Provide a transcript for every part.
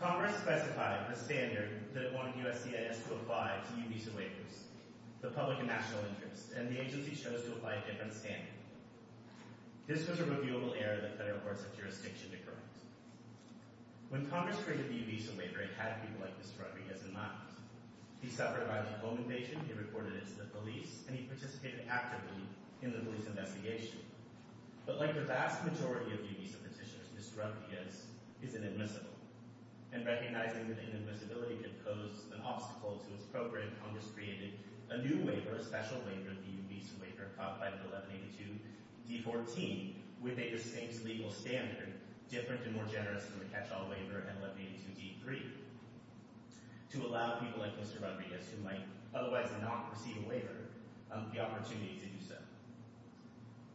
Congress specified a standard that it wanted USCIS to apply to UBESA waivers, the public and national interest, and the agency chose to apply a different standard. This was a reviewable error that federal courts of jurisdiction declared. When Congress created the UBESA waiver, it had people like Mr. Rodriguez in mind. He suffered a violent home invasion, he reported it to the police, and he participated actively in the police investigation. But like the vast majority of UBESA petitioners, Mr. Rodriguez is inadmissible, and recognizing that inadmissibility could pose an obstacle to its program, Congress created a new waiver, a special waiver, the UBESA waiver codified in 1182d14, which made the state's legal standard different and more generous than the catch-all waiver in 1182d3, to allow people like Mr. Rodriguez to apply a UBESA waiver, the opportunity to do so.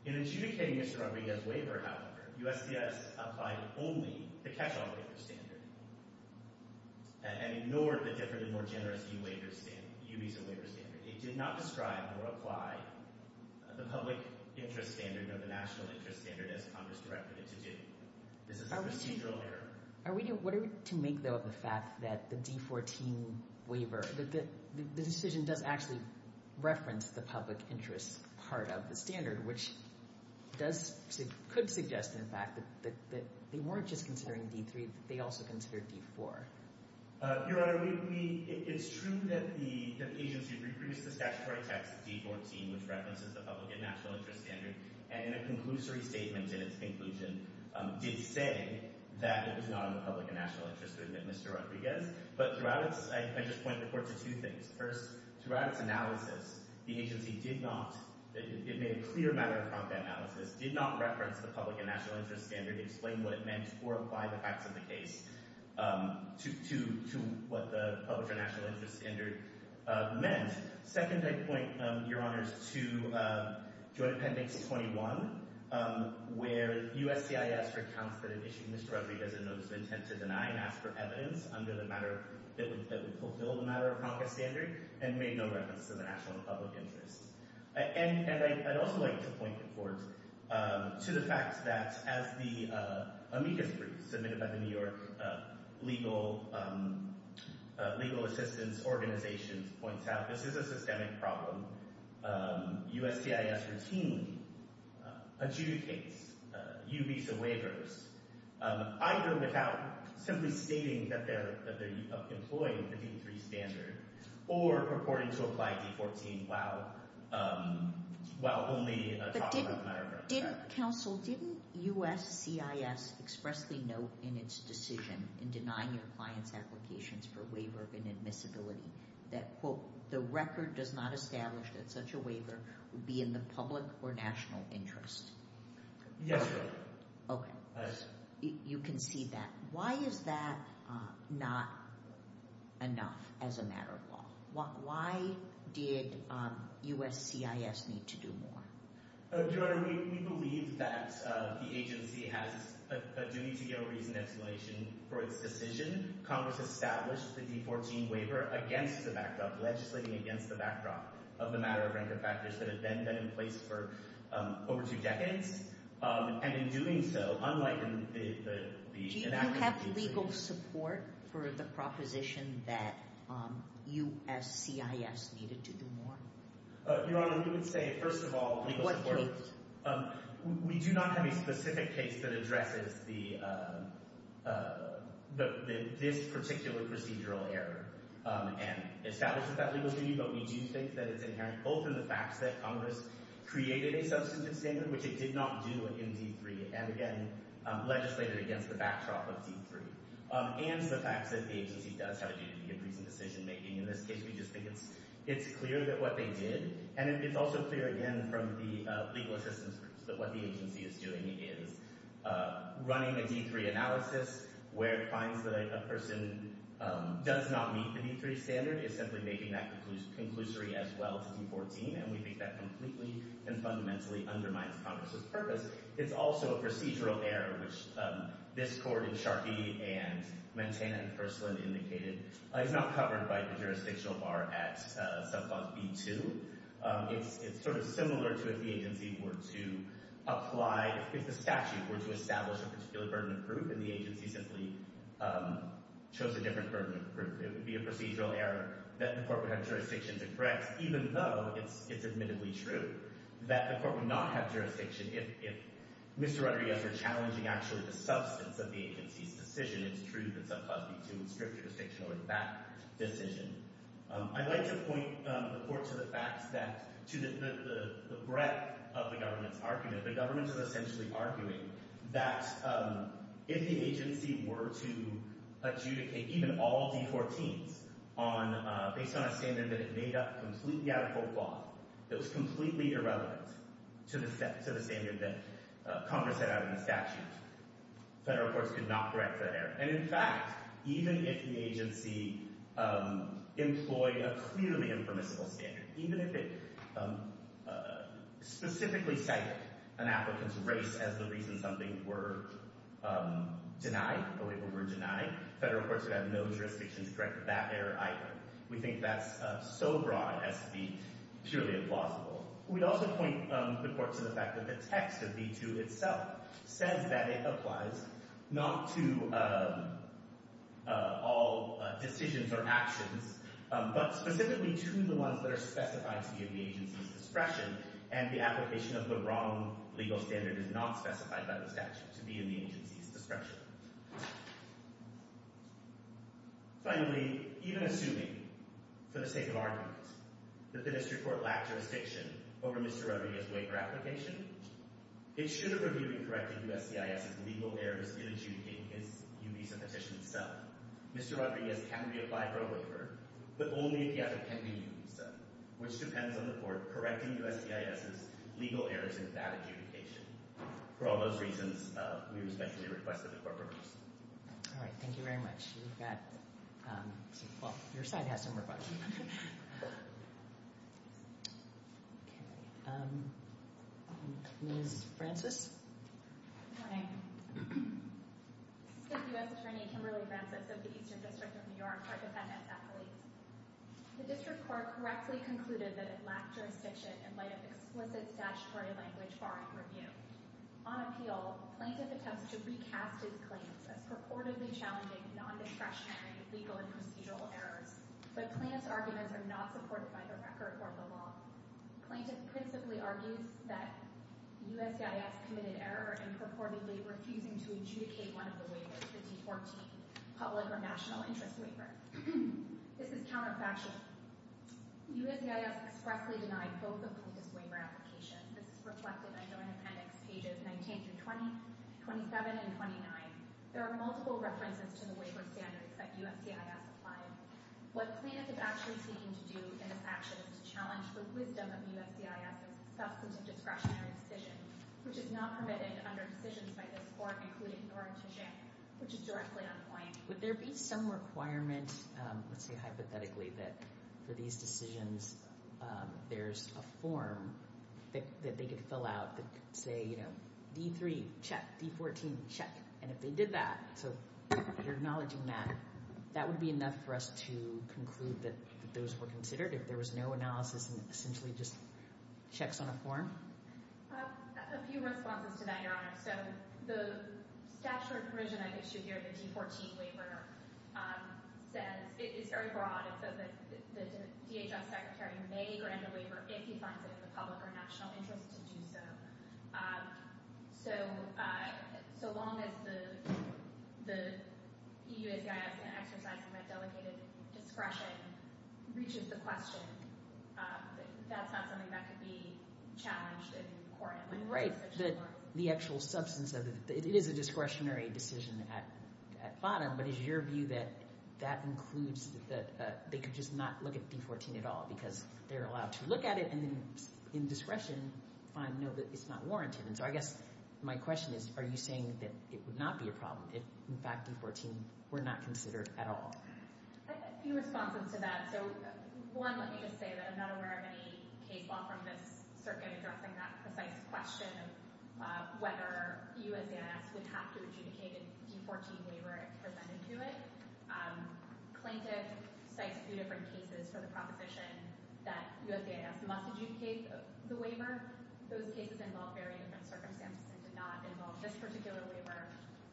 In adjudicating Mr. Rodriguez's waiver, however, USCIS applied only the catch-all waiver standard and ignored the different and more generous UBESA waiver standard. It did not describe or apply the public interest standard or the national interest standard as Congress directed it to do. This is a procedural error. Are we, what are we to make, though, of the fact that the d14 waiver, that the decision does actually reference the public interest part of the standard, which does, could suggest, in fact, that they weren't just considering d3, that they also considered d4? Your Honor, we, it's true that the agency reproduced the statutory text d14, which references the public and national interest standard, and in a conclusory statement in its conclusion, did say that it was not in the public and national interest to admit Mr. Rodriguez. But throughout its, I just point the Court to two things. First, throughout its analysis, the agency did not, it made a clear matter of prompt analysis, did not reference the public and national interest standard, explain what it meant, or apply the facts of the case to what the public or national interest standard meant. Second, I point, Your Honors, to Joint Appendix 21, where USCIS recounts that it issued Mr. Rodriguez a notice of intent to deny and ask for evidence under the matter that would fulfill the matter of Congress standard, and made no reference to the national and public interest. And I'd also like to point the Court to the fact that as the amicus brief submitted by legal, legal assistance organizations points out, this is a systemic problem. USCIS routinely adjudicates U visa waivers, either without simply stating that they're, that they're employing the d3 standard, or purporting to apply d14 while, while only Counsel, didn't USCIS expressly note in its decision in denying your client's applications for waiver of inadmissibility that, quote, the record does not establish that such a waiver would be in the public or national interest? Yes, Your Honor. Okay. You can see that. Why is that not enough as a matter of law? Why did USCIS need to do more? Your Honor, we, we believe that the agency has a duty to give a reasoned explanation for its decision. Congress established the d14 waiver against the backdrop, legislating against the backdrop of the matter of rank and factors that have been done in place for over two decades. And in doing so, unlike the, the, the enactment of the d14— Do you have legal support for the proposition that USCIS needed to do more? Your Honor, we would say, first of all, we do not have a specific case that addresses the, the, this particular procedural error and establishes that legal duty, but we do think that it's inherent, both in the fact that Congress created a substantive standard, which it did not do in d3, and again, legislated against the backdrop of d3, and the fact that the agency does have a duty to give reasoned decision-making. In this case, we just think it's, it's clear that what they did, and it's also clear, again, from the legal assistance groups, that what the agency is doing is running a d3 analysis where it finds that a person does not meet the d3 standard, is simply making that conclusory as well to d14, and we think that completely and fundamentally undermines Congress's purpose. It's also a procedural error, which this court in Sharkey and Montana and Kursland indicated is not covered by the jurisdictional bar at subclause b2. It's, it's sort of similar to if the agency were to apply, if the statute were to establish a particular burden of proof and the agency simply chose a different burden of proof, it would be a procedural error that the court would have jurisdiction to correct, even though it's, it's admittedly true that the court would not have jurisdiction if, if Mr. Rodriguez were challenging actually the substance of the agency's decision. It's true that subclause b2 would strip jurisdiction over that decision. I'd like to point the court to the facts that, to the, the breadth of the government's argument. The government is essentially arguing that if the agency were to adjudicate even all d14s on, based on a standard that it made up completely out of folklore, that was completely irrelevant to the, to the standard that Congress set out in the statute. Federal courts could not correct that error. And in fact, even if the agency employed a clearly impermissible standard, even if it specifically cited an applicant's race as the reason something were denied, a waiver were denied, federal courts would have no jurisdiction to correct that error either. We think that's so broad as to be purely implausible. We'd also point the court to the fact that the text of b2 itself says that it applies not to all decisions or actions, but specifically to the ones that are specified to be in the agency's discretion, and the application of the wrong legal standard is not specified by the statute to be in the agency's discretion. Finally, even assuming, for the sake of argument, that the district court lacked jurisdiction over Mr. Rodriguez's waiver application, it should have reviewed and corrected USCIS's legal errors in adjudicating his UBISA petition itself. Mr. Rodriguez can be applied for a waiver, but only if the effort can be UBISA, which depends on the court correcting USCIS's legal errors in that adjudication. For all those reasons, we respectfully request that the court reverse. All right, thank you very much. You've got, um, well, your side has some more questions. Okay, um, Ms. Francis? Good morning. This is the U.S. Attorney Kimberly Francis of the Eastern District of New York, our defendant's athlete. The district court correctly concluded that it lacked jurisdiction in light of explicit statutory language barring review. On appeal, plaintiff attempts to recast his claims as purportedly challenging non-discretionary legal and procedural errors, but plaintiff's arguments are not supported by the record or the law. Plaintiff principally argues that USCIS committed error in purportedly refusing to adjudicate one of the waivers, the T-14 public or national interest waiver. This is counterfactual. USCIS expressly denied both the plaintiff's waiver applications. This is reflected in the appendix pages 19 through 20, 27, and 29. There are multiple references to the waiver standards that USCIS applied. What plaintiff is actually seeking to do in this action is to challenge the wisdom of USCIS's substantive discretionary decision, which is not permitted under decisions by this court, including norm to jam, which is directly Would there be some requirement, let's say hypothetically, that for these decisions there's a form that they could fill out that say, you know, D-3, check. D-14, check. And if they did that, so you're acknowledging that, that would be enough for us to conclude that those were considered if there was no analysis and essentially just checks on a form? A few responses to that, I mean, right. The actual substance of it, it is a discretionary decision at bottom, but is your view that that includes that they could just not look at D-14 at all because they're allowed to look at it and then in discretion find, no, that it's not warranted? And so I guess my question is, are you saying that it would not be a problem if in fact D-14 were not considered at all? A few responses to that. So one, let me just say that I'm not aware of any case law from this circuit addressing that precise question of whether USCIS would have to adjudicate a D-14 waiver presented to it. Klintick cites a few different cases for the proposition that USCIS must adjudicate the waiver. Those cases involve very different circumstances and did not involve this particular waiver.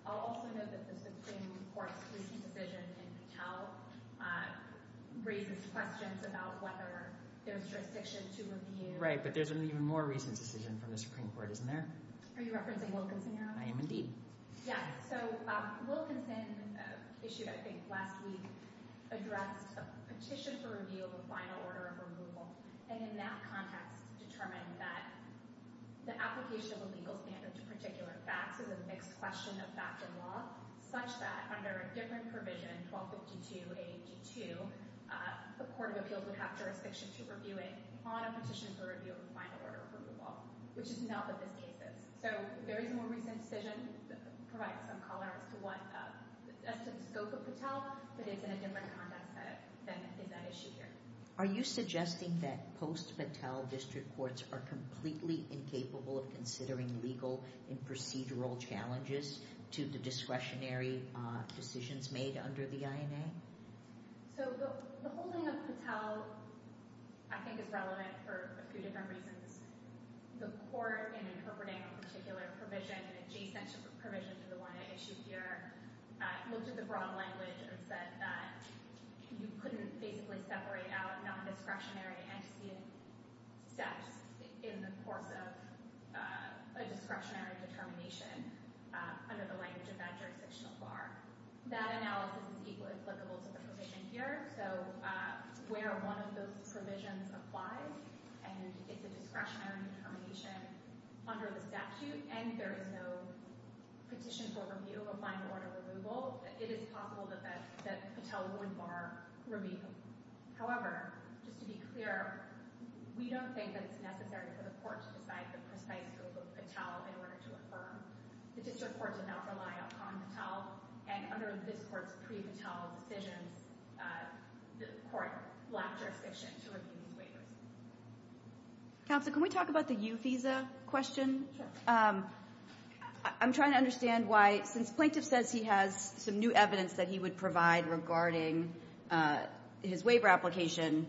I'll also note that the Supreme Court's recent decision in Patel raises questions about whether there's jurisdiction to review. Right, but there's an even more recent decision from the Supreme Court, isn't there? Are you referencing Wilkinson now? I am indeed. Yes, so Wilkinson issued, I think last week, addressed a petition for review of a final order of removal and in that context determined that the application of a legal standard to particular facts is a mixed question of fact and law, such that under a different provision, 1252-82, the court of appeals would have jurisdiction to review it on a petition for review of a final order of removal, which is not what this case is. So a very more recent decision provides some color as to the scope of Patel, but it's in a different context than is at issue here. Are you suggesting that post-Patel district courts are completely incapable of considering legal and procedural challenges to the discretionary decisions made under the INA? So the holding of Patel, I think, is relevant for a few different reasons. The court, in interpreting a particular provision, an adjacent provision to the one at issue here, looked at the broad language and said that you couldn't basically separate out non-discretionary antecedent steps in the course of a discretionary determination under the language of that provision here. So where one of those provisions applies, and it's a discretionary determination under the statute, and there is no petition for review of a final order of removal, it is possible that Patel would bar review. However, just to be clear, we don't think that it's necessary for the court to decide the precise scope of Patel in order to affirm. The district courts would not rely upon Patel, and under this court's pre-Patel decisions, the court lacked jurisdiction to review these waivers. Counsel, can we talk about the U visa question? I'm trying to understand why, since Plaintiff says he has some new evidence that he would provide regarding his waiver application,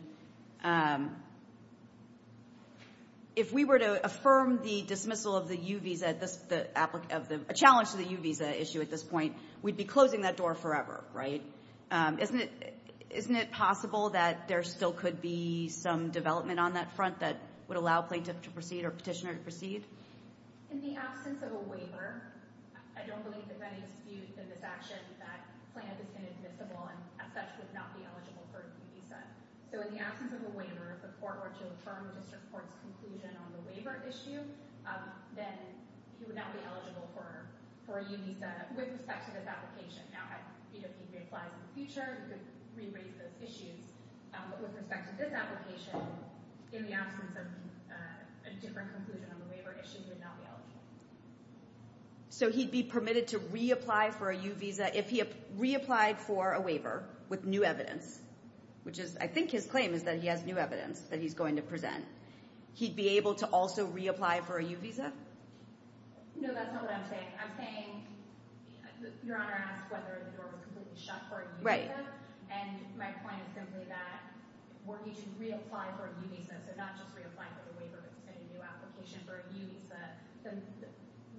if we were to affirm the dismissal of the U visa, a challenge to the U visa issue at this point, we'd be closing that door forever, right? Isn't it possible that there still could be some development on that front that would allow Plaintiff to proceed or Petitioner to proceed? In the absence of a waiver, I don't believe that that is viewed in this action that Plaintiff is inadmissible and as such would not be eligible for a U visa. So in the absence of a waiver, if the court were to affirm the district court's conclusion on the waiver, he would not be eligible for a U visa with respect to this application. Now, if he reapplies in the future, he could re-raise those issues. But with respect to this application, in the absence of a different conclusion on the waiver issue, he would not be eligible. So he'd be permitted to reapply for a U visa if he reapplied for a waiver with new evidence, which is, I think his claim is that he has new evidence that he's going to present. He'd be able to also reapply for a U visa? No, that's not what I'm saying. I'm saying Your Honor asked whether the door was completely shut for a U visa. And my point is simply that were he to reapply for a U visa, so not just reapply for the waiver but to send a new application for a U visa,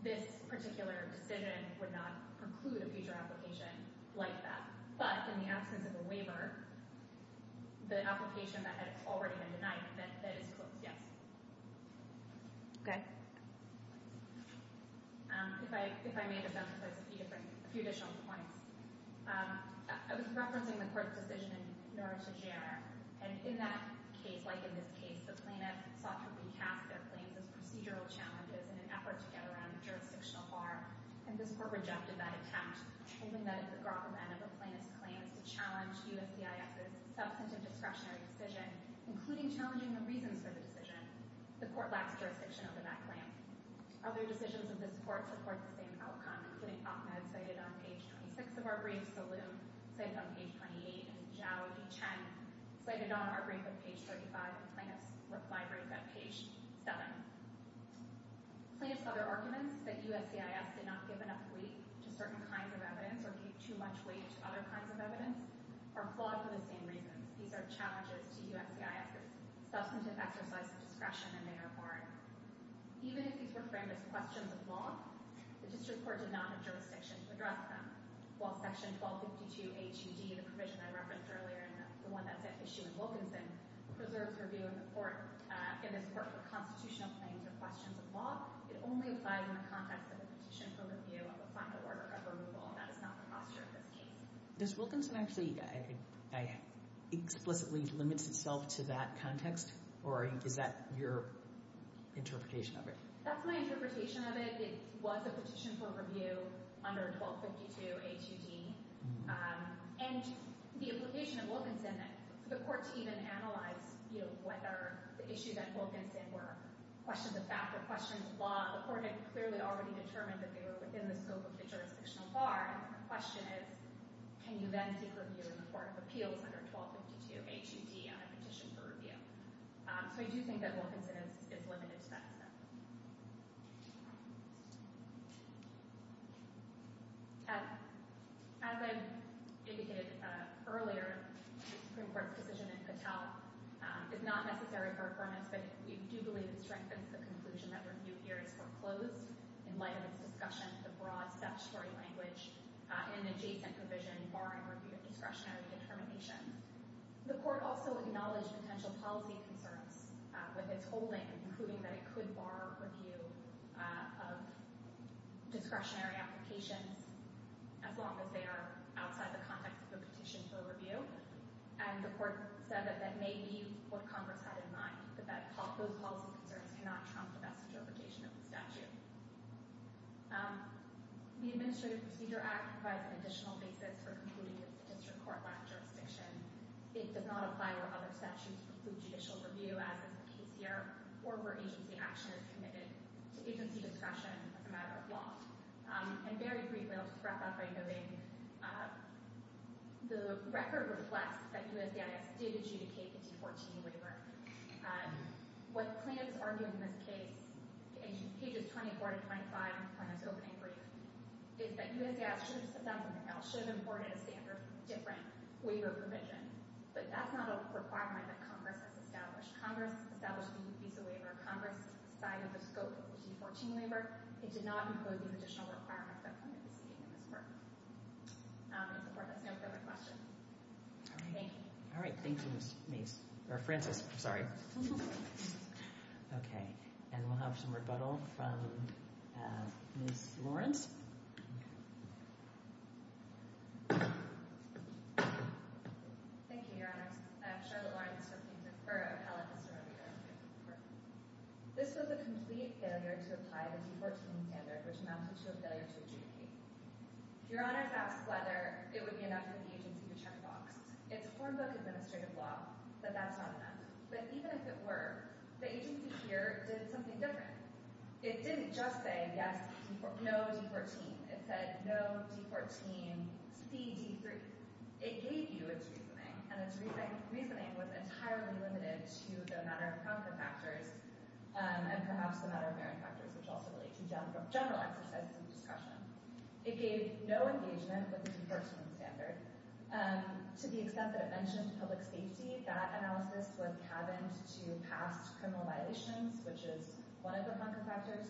this particular decision would not preclude a future application like that. But in the absence of a waiver, the application that had already been denied, that is closed, yes. Okay. If I may just emphasize a few different, a few additional points. I was referencing the Court's decision in Noir to Jarre. And in that case, like in this case, the plaintiff sought to recast their claims as procedural challenges in an effort to get around jurisdictional harm. And this Court rejected that attempt, proving that if the government of a plaintiff's claim is to challenge USCIS's substantive discretionary decision, including challenging the reasons for the decision, the Court lacks jurisdiction over that claim. Other decisions of this Court support the same outcome, including Ahmed, cited on page 26 of our brief, Salim, cited on page 28, and Zhao, Duchenne, cited on our brief at page 35, and the plaintiff's replied brief at page 7. Plaintiff's other arguments, that USCIS did not give enough weight to certain kinds of evidence or gave too much weight to other kinds of evidence, are flawed for the same reasons. These are challenges to USCIS's substantive exercise of discretion, and they are foreign. Even if these were framed as questions of law, the District Court did not have jurisdiction to address them. While section 1252 HUD, the provision I referenced earlier, and the one that's at issue in Wilkinson, preserves her view in the Court, in this Court, for constitutional claims or questions of law, it only applied in the context of a petition for review of a final order of removal. That is not the posture of this case. Does Wilkinson actually explicitly limit itself to that context? Or is that your interpretation of it? That's my interpretation of it. It was a petition for review under 1252 HUD, and the implication of Wilkinson that the Court to even analyze, you know, whether the issues at Wilkinson were questions of fact or questions of law, the Court had clearly already determined that they were within the scope of the jurisdictional bar, and the question is, can you then seek review in the Court of Appeals under 1252 HUD on a petition for review? So we do think that Wilkinson is limited to that extent. As I indicated earlier, the Supreme Court's decision in Patel is not necessary for affirmance, but we do believe it strengthens the conclusion that review here is foreclosed in light of its discussion of the broad statutory language in an adjacent provision barring review of discretionary determinations. The Court also acknowledged potential policy concerns with its holding and proving that it could bar review of discretionary applications as long as they are outside the context of the petition for review, and the Court said that that may be what Congress had in mind, that those policy concerns cannot trump the best interpretation of the statute. The Administrative Procedure Act provides an additional basis for concluding the district court-lined jurisdiction. It does not apply where other statutes preclude judicial review, as is the case here, or where agency action is committed to agency discretion as a matter of law. And very briefly, I'll just wrap up by noting the record reflects that USDAIS did adjudicate the D14 waiver. What plaintiffs argue in this case, in pages 24 to 25 of the plaintiff's opening brief, is that USDAIS should have said something else, should have imported a standard different waiver provision. But that's not a requirement that Congress has established. Congress established the visa waiver. Congress decided the scope of the D14 waiver. It did not include the additional requirements that the plaintiff is seeking in this work. In support, there's no further questions. Thank you. Thank you, Ms. Mace. Or Frances, I'm sorry. Okay. And we'll have some rebuttal from Ms. Lawrence. Thank you, Your Honors. I'm Charlotte Lawrence from the Bureau of Appellate History and Rehabilitation. This was a complete failure to apply the D14 standard, which amounts to a failure to adjudicate. If Your Honors asks whether it would be enough for the agency to check a box, it's form book administrative law that that's not enough. But even if it were, the agency here did something different. It didn't just say, yes, no D14. It said, no D14 CD3. It gave you its reasoning. And its reasoning was entirely limited to the matter-of-concern factors and perhaps the matter-of-merit factors, which also relate to general access and discussion. It gave no engagement with the D14 standard. To the extent that it mentioned public safety, that analysis was cabined to past criminal violations, which is one of the marker factors,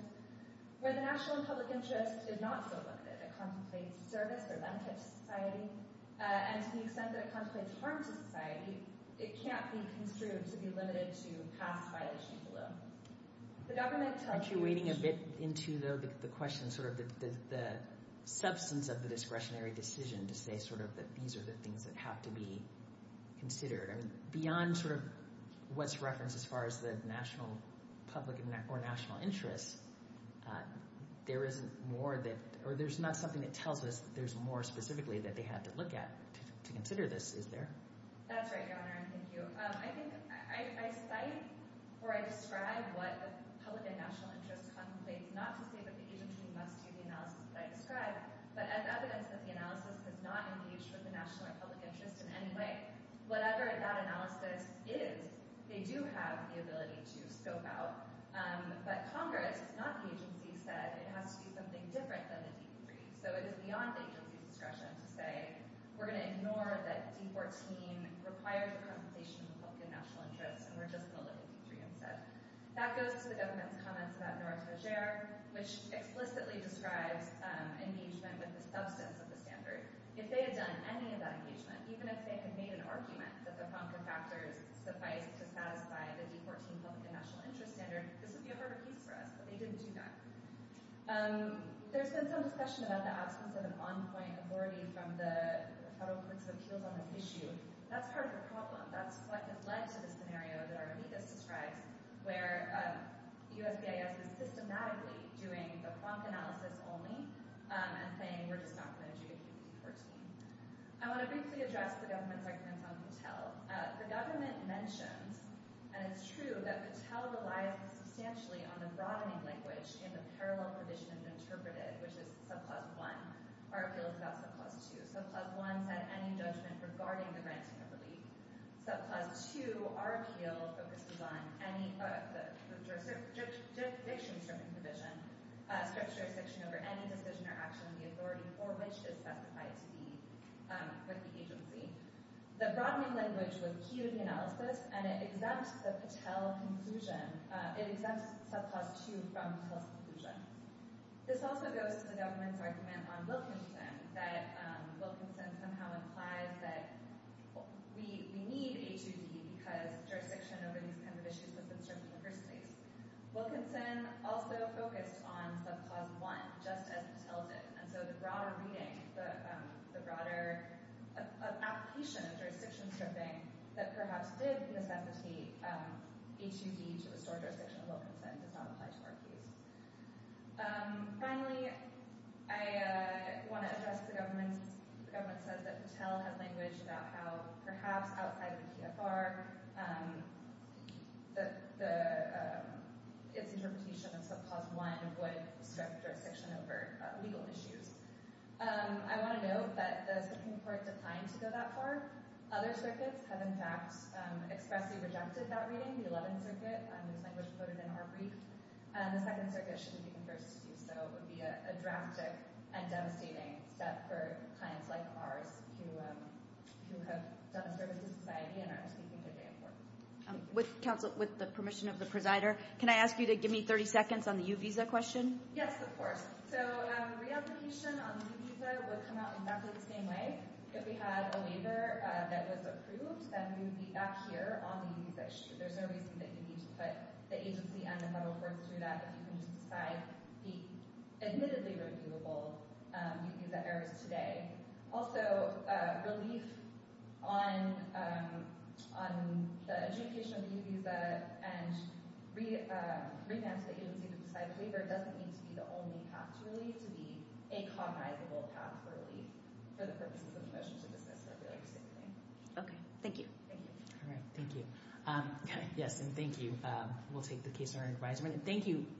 where the national and public interest is not so limited. It contemplates service or benefit to society. And to the extent that it contemplates harm to society, it can't be construed to be limited to past violations alone. The government tells you— Aren't you wading a bit into the question, sort of the substance of the discretionary decision to say sort of that these are the things that have to be considered? I mean, beyond sort of what's referenced as far as the national public or national interest, there isn't more that—or there's not something that tells us that there's more specifically that they had to look at to consider this, is there? That's right, Your Honor, and thank you. I think I cite or I describe what the public and national interest contemplates, not to say that the agency must do the analysis that I described, but as evidence that the analysis does not engage with the national or public interest in any way. Whatever that analysis is, they do have the ability to scope out. But Congress, not the agency, said it has to do something different than the D-3. So it is beyond the agency's discretion to say, we're going to ignore that D-14 requires a compensation of the public and national interest, and we're just going to look at D-3 instead. That goes to the government's comments about noir-to-lagerre, which explicitly describes engagement with the substance of the standard. If they had done any of that engagement, even if they had made an argument that the FONCA factors suffice to satisfy the D-14 public and national interest standard, this would be a harder case for us, but they didn't do that. There's been some discussion about the absence of an on-point authority from the federal courts of appeals on this issue. That's part of the problem. That's what has led to the scenario that Artemides describes, where USBIS is systematically doing the FONCA analysis only and saying, we're just not going to do D-14. I want to briefly address the government's arguments on Patel. The government mentioned, and it's true, that Patel relies substantially on the broadening language in the parallel provision interpreted, which is subclause 1. Our appeal is about subclause 2. Subclause 1 said any judgment regarding the granting of relief. Subclause 2, our appeal focuses on any jurisdiction over any decision or action of the authority for which it is specified to be with the agency. The broadening language was key to the analysis, and it exempts the Patel conclusion. It exempts subclause 2 from Patel's conclusion. This also goes to the government's argument on Wilkinson, that Wilkinson somehow implies that we need HUD because jurisdiction over these kind of issues has been stripped in the first place. Wilkinson also focused on subclause 1, just as Patel did. So the broader reading, the broader application of jurisdiction stripping that perhaps did necessitate HUD to restore jurisdiction over Wilkinson does not apply to our case. Finally, I want to address the government's—the government says that Patel has language about how perhaps outside of the PFR, its interpretation of subclause 1 would strip jurisdiction over legal issues. I want to note that the Supreme Court declined to go that far. Other circuits have, in fact, expressly rejected that reading. The 11th Circuit, whose language was quoted in our brief, and the 2nd Circuit should have taken first. So it would be a drastic and devastating step for clients like ours who have done a service to society and are speaking to the Supreme Court. With the permission of the presider, can I ask you to give me 30 seconds on the U-Visa question? Yes, of course. So reapplication on the U-Visa would come out exactly the same way. If we had a waiver that was approved, then we would be back here on the U-Visa issue. There's no reason that you need to put the agency and the federal courts through that if you can just decide the admittedly reviewable U-Visa errors today. Also, relief on the adjudication of the U-Visa and revamping the agency to decide waiver doesn't need to be the only path to relief. It needs to be a cognizable path for relief for the purposes of the motion to dismiss the appeal proceeding. Okay. Thank you. Thank you. All right. Thank you. Yes, and thank you. We'll take the case in our advisement. Thank you.